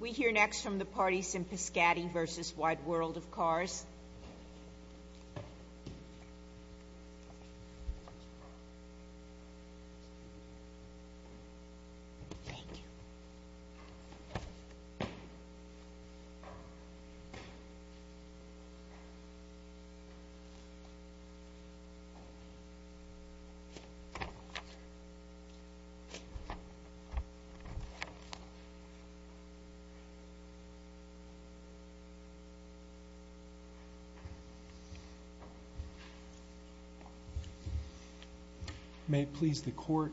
We hear next from the parties in Pyskaty v. Wide World of Cars. May it please the Court,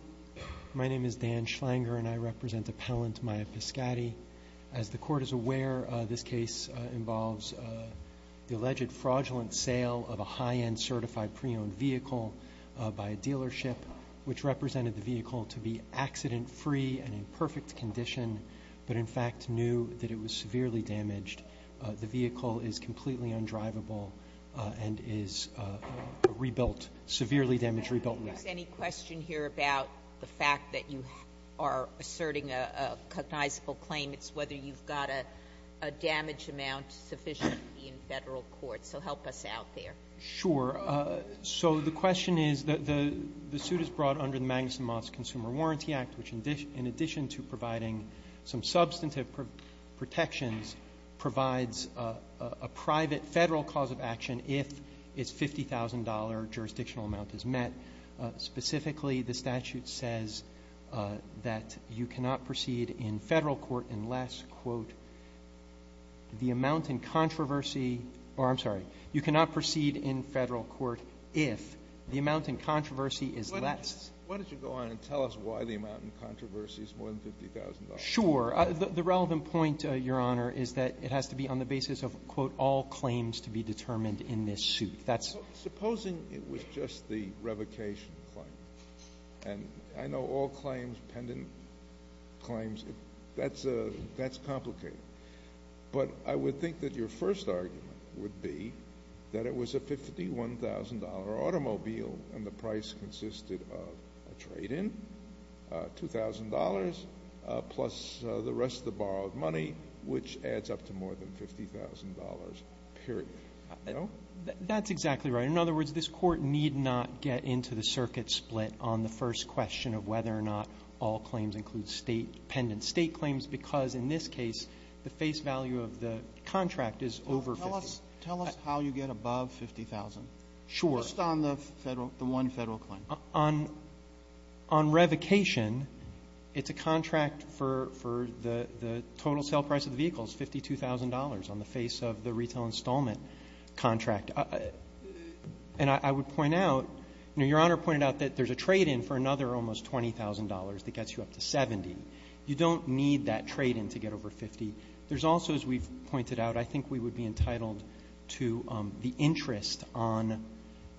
my name is Dan Schlanger and I represent appellant Maya Pyskaty. As the Court is aware, this case involves the alleged fraudulent sale of a high-end certified pre-owned vehicle by a dealership which represented the vehicle to be accident-free and in perfect condition, but in fact knew that it was severely damaged. The vehicle is completely undriveable and is rebuilt, severely damaged, rebuilt. Is there any question here about the fact that you are asserting a cognizable claim? It's whether you've got a damage amount sufficient to be in Federal court, so help us out there. Sure. So the question is, the suit is brought under the Magnuson-Moss Consumer Warranty Act, which in addition to providing some substantive protections, provides a private Federal cause of action if its $50,000 jurisdictional amount is met. Specifically, the statute says that you cannot proceed in Federal court unless, quote, the amount in controversy or, I'm sorry, you cannot proceed in Federal court if the amount in controversy is less. Why don't you go on and tell us why the amount in controversy is more than $50,000? Sure. The relevant point, Your Honor, is that it has to be on the basis of, quote, all claims to be determined in this suit. Supposing it was just the revocation claim. And I know all claims, pendant claims, that's complicated. But I would think that your first argument would be that it was a $51,000 automobile and the price consisted of a trade-in, $2,000, plus the rest of the borrowed money, which adds up to more than $50,000, period. That's exactly right. In other words, this Court need not get into the circuit split on the first question of whether or not all claims include state pendants. State claims, because in this case, the face value of the contract is over $50,000. Tell us how you get above $50,000. Sure. Just on the one Federal claim. On revocation, it's a contract for the total sale price of the vehicles, $52,000, on the face of the retail installment contract. And I would point out, you know, Your Honor pointed out that there's a trade-in for another almost $20,000 that gets you up to $70,000. You don't need that trade-in to get over $50,000. There's also, as we've pointed out, I think we would be entitled to the interest on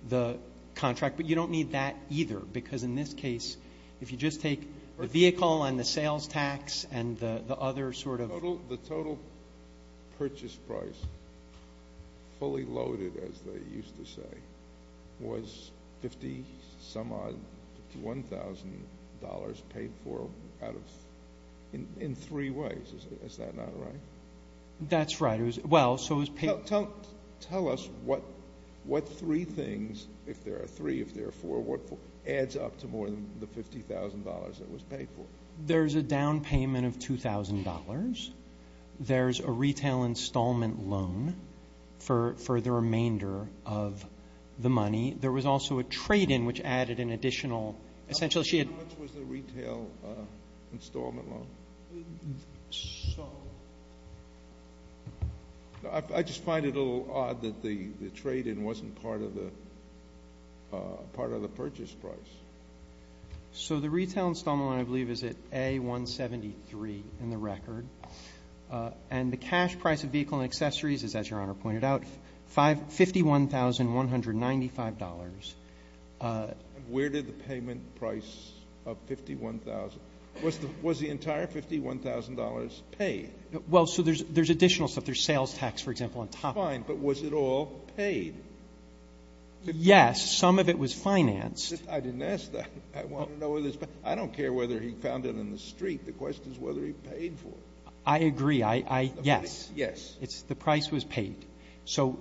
the contract. But you don't need that either, because in this case, if you just take the vehicle and the sales tax and the other sort of ---- The purchase price, fully loaded, as they used to say, was 50-some-odd, $51,000 paid for out of ---- in three ways. Is that not right? That's right. It was ---- Tell us what three things, if there are three, if there are four, adds up to more than the $50,000 that was paid for. There's a down payment of $2,000. There's a retail installment loan for the remainder of the money. There was also a trade-in, which added an additional ---- How much was the retail installment loan? I just find it a little odd that the trade-in wasn't part of the purchase price. So the retail installment loan, I believe, is at A-173 in the record. And the cash price of vehicle and accessories is, as Your Honor pointed out, $51,195. Where did the payment price of 51,000 ---- was the entire $51,000 paid? Well, so there's additional stuff. There's sales tax, for example, on top of it. Fine. But was it all paid? Yes. Some of it was financed. I didn't ask that. I want to know whether it's ---- I don't care whether he found it in the street. The question is whether he paid for it. I agree. I ---- yes. Yes. The price was paid. So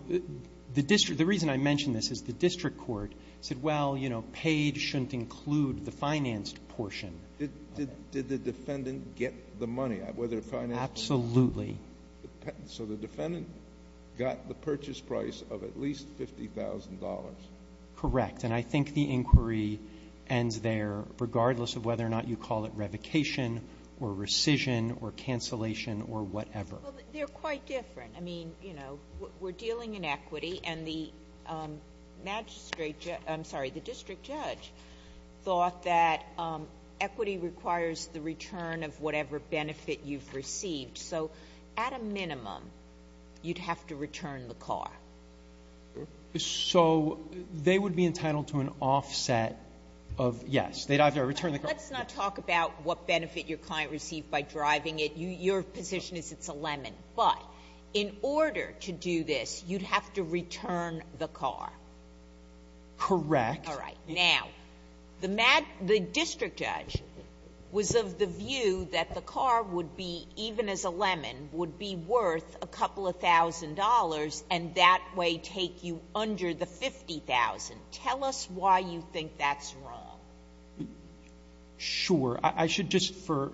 the district ---- the reason I mention this is the district court said, well, you know, paid shouldn't include the financed portion. Did the defendant get the money, whether it financed or not? Absolutely. So the defendant got the purchase price of at least $50,000. Correct. And I think the inquiry ends there, regardless of whether or not you call it revocation or rescission or cancellation or whatever. Well, they're quite different. I mean, you know, we're dealing in equity, and the magistrate ---- I'm sorry, the district judge thought that equity requires the return of whatever benefit you've received. So at a minimum, you'd have to return the car. So they would be entitled to an offset of, yes, they'd have to return the car. Let's not talk about what benefit your client received by driving it. Your position is it's a lemon. But in order to do this, you'd have to return the car. Correct. All right. Now, the district judge was of the view that the car would be, even as a lemon, would be worth a couple of thousand dollars, and that way take you under the $50,000. Tell us why you think that's wrong. Sure. I should just, for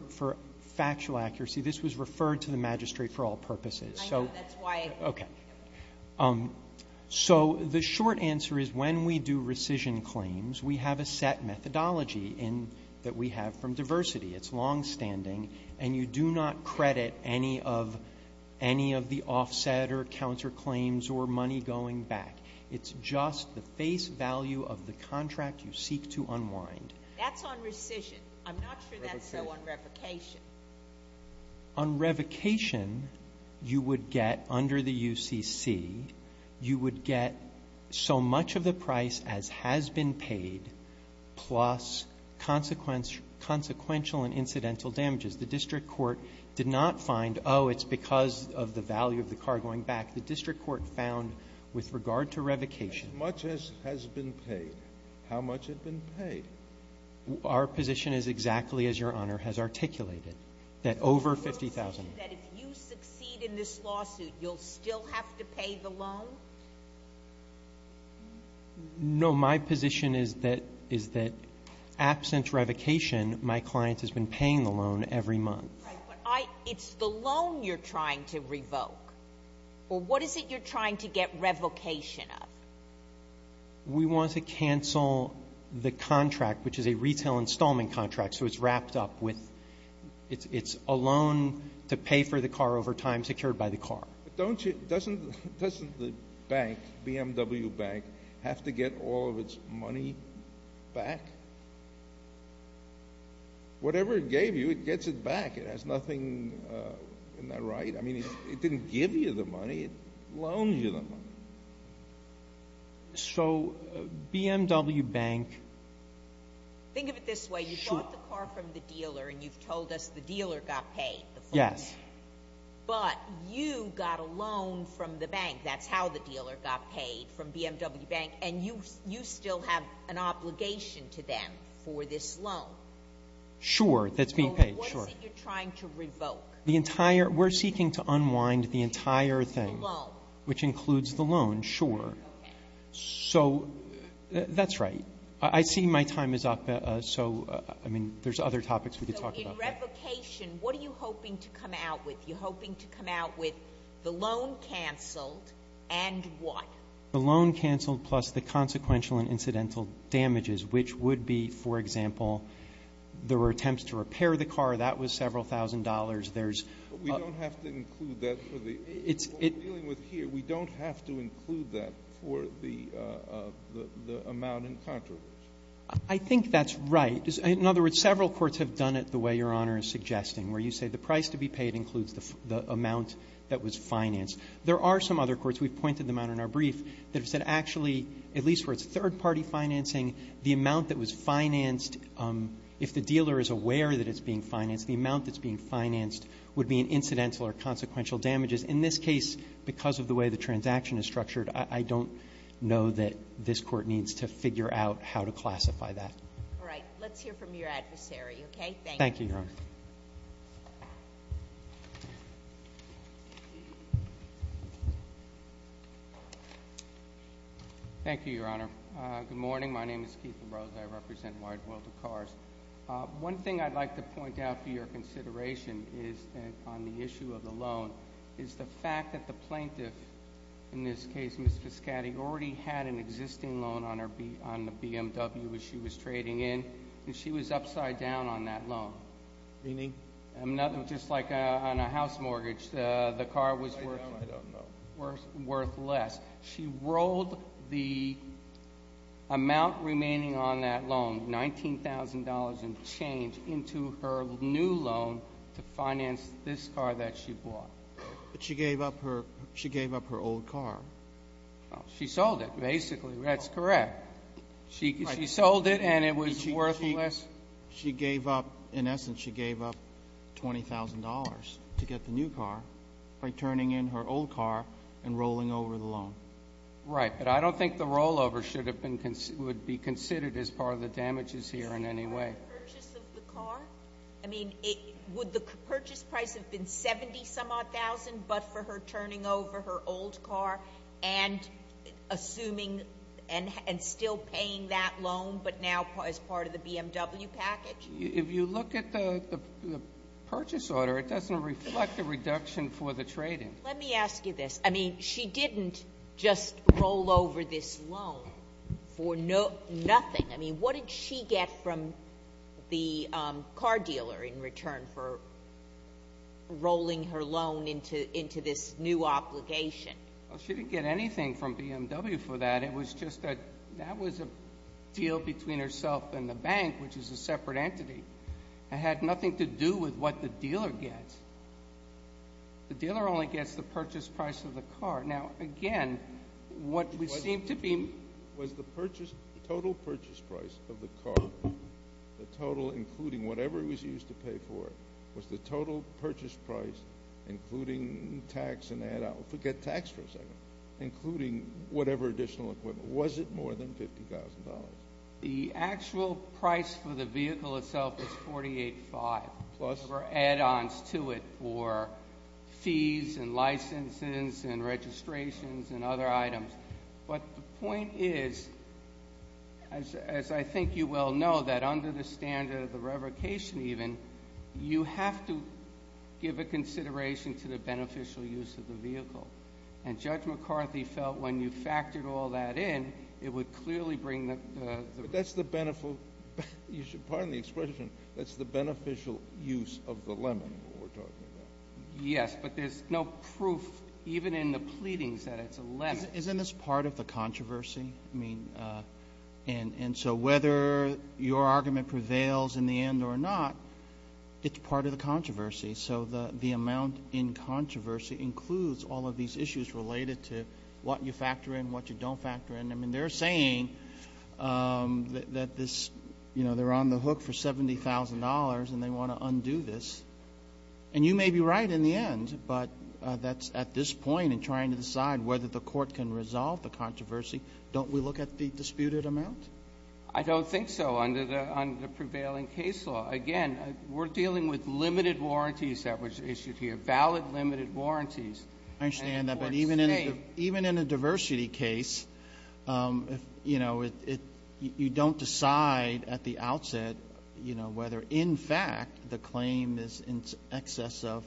factual accuracy, this was referred to the magistrate for all purposes. I know. That's why. Okay. So the short answer is when we do rescission claims, we have a set methodology that we have from diversity. It's longstanding. And you do not credit any of the offset or counterclaims or money going back. It's just the face value of the contract you seek to unwind. That's on rescission. I'm not sure that's so on revocation. On revocation, you would get, under the UCC, you would get so much of the price as has been paid, plus consequential and incidental damages. The district court did not find, oh, it's because of the value of the car going back. The district court found, with regard to revocation. How much has been paid? How much has been paid? Our position is exactly as Your Honor has articulated, that over $50,000. You mean that if you succeed in this lawsuit, you'll still have to pay the loan? No. My position is that absent revocation, my client has been paying the loan every month. Right. But it's the loan you're trying to revoke. Or what is it you're trying to get revocation of? We want to cancel the contract, which is a retail installment contract, so it's a loan to pay for the car over time, secured by the car. Doesn't the bank, BMW Bank, have to get all of its money back? Whatever it gave you, it gets it back. It has nothing in that right. I mean, it didn't give you the money. It loaned you the money. So BMW Bank ---- Think of it this way. You bought the car from the dealer, and you've told us the dealer got paid. Yes. But you got a loan from the bank. That's how the dealer got paid, from BMW Bank. And you still have an obligation to them for this loan. Sure. That's being paid. Sure. What is it you're trying to revoke? The entire ---- we're seeking to unwind the entire thing. The loan. Which includes the loan, sure. Okay. So that's right. I see my time is up. So, I mean, there's other topics we could talk about. So in revocation, what are you hoping to come out with? You're hoping to come out with the loan canceled and what? The loan canceled plus the consequential and incidental damages, which would be, for example, there were attempts to repair the car. That was several thousand dollars. There's ---- But we don't have to include that for the ---- It's ---- I think that's right. In other words, several courts have done it the way Your Honor is suggesting, where you say the price to be paid includes the amount that was financed. There are some other courts, we've pointed them out in our brief, that have said actually, at least where it's third-party financing, the amount that was financed ---- if the dealer is aware that it's being financed, the amount that's being financed would be in incidental or consequential damages. In this case, because of the way the transaction is structured, I don't know that this Court needs to figure out how to classify that. All right. Let's hear from your adversary, okay? Thank you. Thank you, Your Honor. Thank you, Your Honor. Good morning. My name is Keith Ambrose. I represent Wide World of Cars. One thing I'd like to point out for your consideration is that on the issue of the on the BMW as she was trading in, she was upside down on that loan. Meaning? Just like on a house mortgage, the car was worth less. She rolled the amount remaining on that loan, $19,000 in change, into her new loan to finance this car that she bought. But she gave up her old car. She sold it, basically. That's correct. She sold it and it was worthless. She gave up, in essence, she gave up $20,000 to get the new car by turning in her old car and rolling over the loan. Right. But I don't think the rollover would be considered as part of the damages here in any way. Would the purchase of the car, I mean, would the purchase price have been $70,000 but for her turning over her old car and assuming and still paying that loan, but now as part of the BMW package? If you look at the purchase order, it doesn't reflect the reduction for the trading. Let me ask you this. I mean, she didn't just roll over this loan for nothing. I mean, what did she get from the car dealer in return for rolling her loan into this new obligation? She didn't get anything from BMW for that. It was just that that was a deal between herself and the bank, which is a separate entity. It had nothing to do with what the dealer gets. The dealer only gets the purchase price of the car. Now, again, what we seem to be— Was the purchase, the total purchase price of the car, the total, including whatever it was used to pay for, was the total purchase price, including tax and add-on, forget tax for a second, including whatever additional equipment, was it more than $50,000? The actual price for the vehicle itself was $48,500. Plus? Or add-ons to it for fees and licenses and registrations and other items. But the point is, as I think you well know, that under the standard of the revocation even, you have to give a consideration to the beneficial use of the vehicle. And Judge McCarthy felt when you factored all that in, it would clearly bring the— That's the beneficial—pardon the expression. That's the beneficial use of the lemon we're talking about. Yes, but there's no proof, even in the pleadings, that it's a lemon. Isn't this part of the controversy? I mean, and so whether your argument prevails in the end or not, it's part of the controversy. So the amount in controversy includes all of these issues related to what you factor in, what you don't factor in. I mean, they're saying that this, you know, they're on the hook for $70,000 and they want to undo this. And you may be right in the end, but that's at this point in trying to decide whether the court can resolve the controversy. Don't we look at the disputed amount? I don't think so under the prevailing case law. Again, we're dealing with limited warranties that were issued here, valid limited warranties. I understand that. But even in a diversity case, you know, you don't decide at the outset, you know, whether in fact the claim is in excess of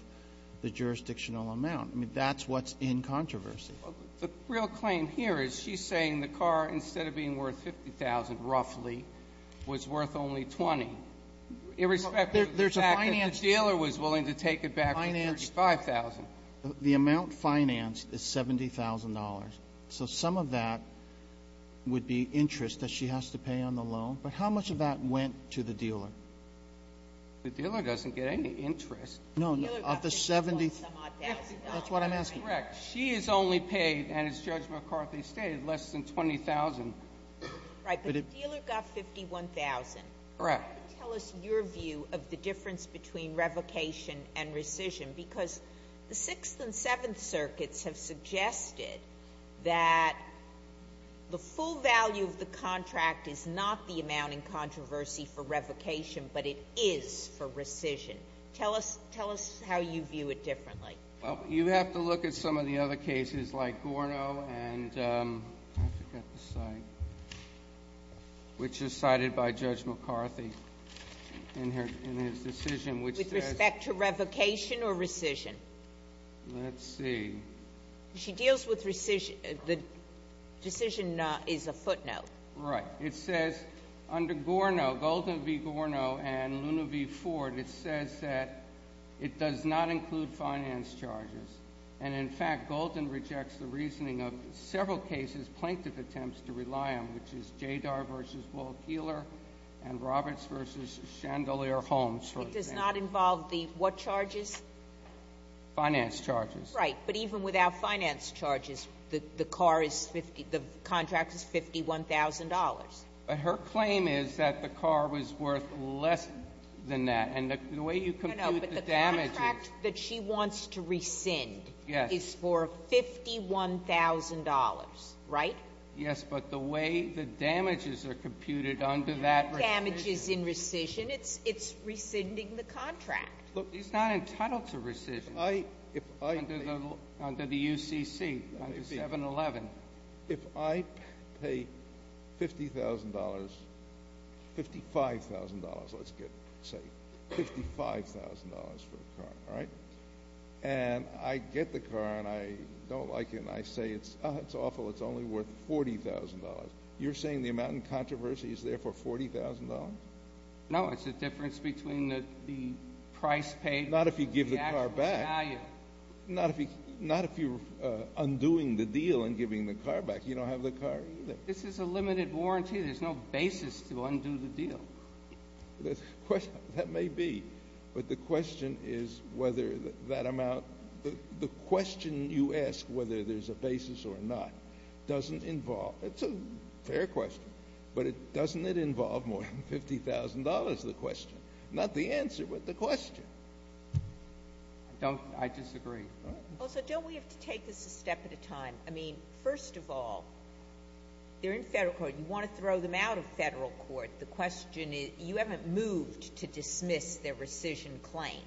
the jurisdictional amount. I mean, that's what's in controversy. The real claim here is she's saying the car, instead of being worth $50,000 roughly, was worth only $20,000, irrespective of the fact that the dealer was willing to take it back for $35,000. But the amount financed is $70,000. So some of that would be interest that she has to pay on the loan. But how much of that went to the dealer? The dealer doesn't get any interest. No, no. Of the $70,000. $50,000. That's what I'm asking. Correct. She is only paid, as Judge McCarthy stated, less than $20,000. Right. But the dealer got $51,000. Correct. Tell us your view of the difference between revocation and rescission. Because the Sixth and Seventh Circuits have suggested that the full value of the contract is not the amount in controversy for revocation, but it is for rescission. Tell us how you view it differently. Well, you have to look at some of the other cases, like Gorno and I forget the site, which is cited by Judge McCarthy in his decision, which says With respect to revocation or rescission? Let's see. She deals with rescission. The decision is a footnote. Right. It says under Gorno, Golden v. Gorno and Luna v. Ford, it says that it does not include finance charges. And in fact, Golden rejects the reasoning of several cases, plaintiff attempts to rely on, which is Jadar v. Wall Keeler and Roberts v. Chandelier Holmes. It does not involve the what charges? Finance charges. Right. But even without finance charges, the car is 50, the contract is $51,000. But her claim is that the car was worth less than that. And the way you compute the damages. No, no, but the contract that she wants to rescind is for $51,000, right? Yes, but the way the damages are computed under that rescission. No damages in rescission. It's rescinding the contract. Look, he's not entitled to rescission. Under the UCC, under 711. If I pay $50,000, $55,000, let's say, $55,000 for a car, right? And I get the car and I don't like it and I say it's awful, it's only worth $40,000. You're saying the amount in controversy is there for $40,000? No, it's the difference between the price paid. Not if you give the car back. The actual value. Not if you're undoing the deal and giving the car back. You don't have the car either. This is a limited warranty. There's no basis to undo the deal. That may be, but the question is whether that amount, the question you ask whether there's a basis or not doesn't involve, it's a fair question, but doesn't it involve more than $50,000, the question? Not the answer, but the question. I disagree. Well, so don't we have to take this a step at a time? I mean, first of all, they're in federal court. You want to throw them out of federal court. The question is you haven't moved to dismiss their rescission claim.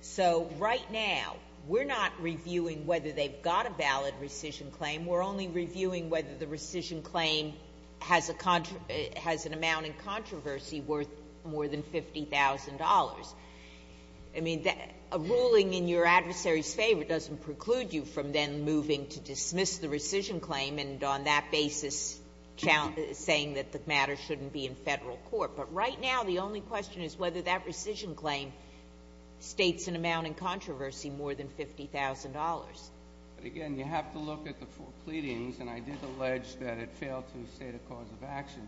So right now we're not reviewing whether they've got a valid rescission claim. We're only reviewing whether the rescission claim has an amount in controversy worth more than $50,000. I mean, a ruling in your adversary's favor doesn't preclude you from then moving to dismiss the rescission claim and on that basis saying that the matter shouldn't be in federal court. But right now the only question is whether that rescission claim states an amount in controversy more than $50,000. But again, you have to look at the four pleadings, and I did allege that it failed to state a cause of action.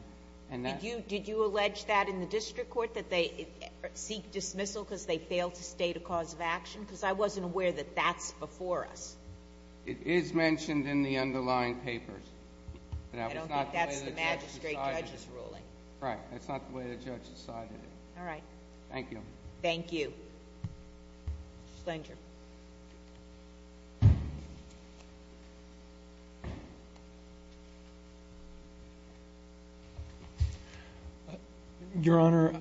Did you allege that in the district court, that they seek dismissal because they failed to state a cause of action? Because I wasn't aware that that's before us. It is mentioned in the underlying papers. I don't think that's the magistrate judge's ruling. Right. That's not the way the judge decided it. All right. Thank you. Thank you. Mr. Schlanger. Your Honor.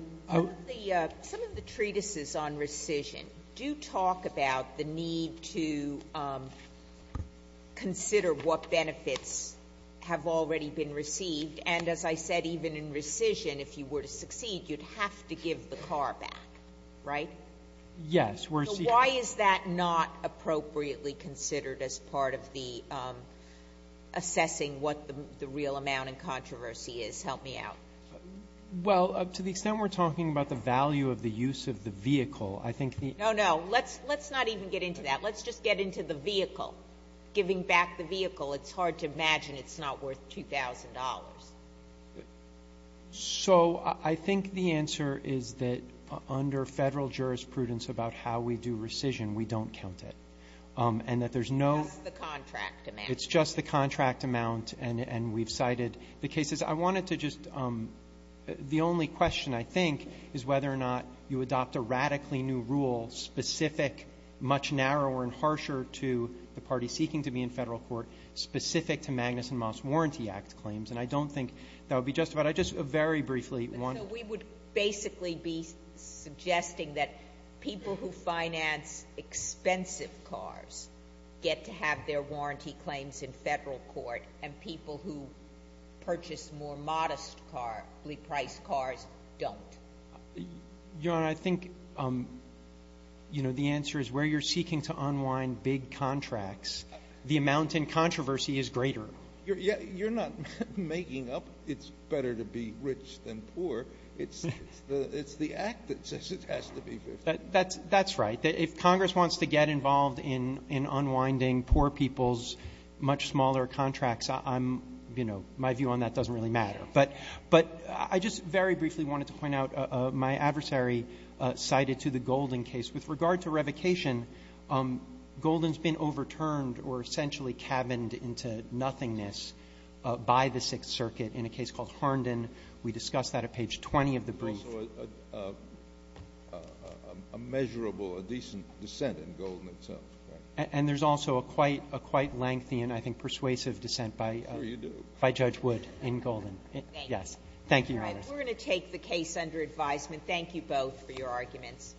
Some of the treatises on rescission do talk about the need to consider what benefits have already been received. And as I said, even in rescission, if you were to succeed, you'd have to give the car back. Right? Yes. So why is that not appropriately considered as part of the assessing what the real amount in controversy is? Help me out. Well, to the extent we're talking about the value of the use of the vehicle, I think the ---- No, no. Let's not even get into that. Let's just get into the vehicle. Giving back the vehicle, it's hard to imagine it's not worth $2,000. So I think the answer is that under Federal jurisprudence about how we do rescission, we don't count it, and that there's no ---- Just the contract amount. It's just the contract amount, and we've cited the cases. I wanted to just ---- the only question, I think, is whether or not you adopt a radically new rule specific, much narrower and harsher to the party seeking to be in Federal court specific to Magnuson-Moss Warranty Act claims. And I don't think that would be justified. I just very briefly want to ---- So we would basically be suggesting that people who finance expensive cars get to have their warranty claims in Federal court, and people who purchase more modest-priced cars don't? Your Honor, I think the answer is where you're seeking to unwind big contracts, the amount in controversy is greater. You're not making up it's better to be rich than poor. It's the Act that says it has to be. That's right. If Congress wants to get involved in unwinding poor people's much smaller contracts, I'm, you know, my view on that doesn't really matter. But I just very briefly wanted to point out my adversary cited to the Golden case. With regard to revocation, Golden's been overturned or essentially cabined into nothingness by the Sixth Circuit in a case called Hornden. We discussed that at page 20 of the brief. It's also a measurable, a decent dissent in Golden itself, correct? And there's also a quite lengthy and I think persuasive dissent by Judge Wood in Golden. Thank you. Yes. Thank you, Your Honor. Thank you both for your arguments.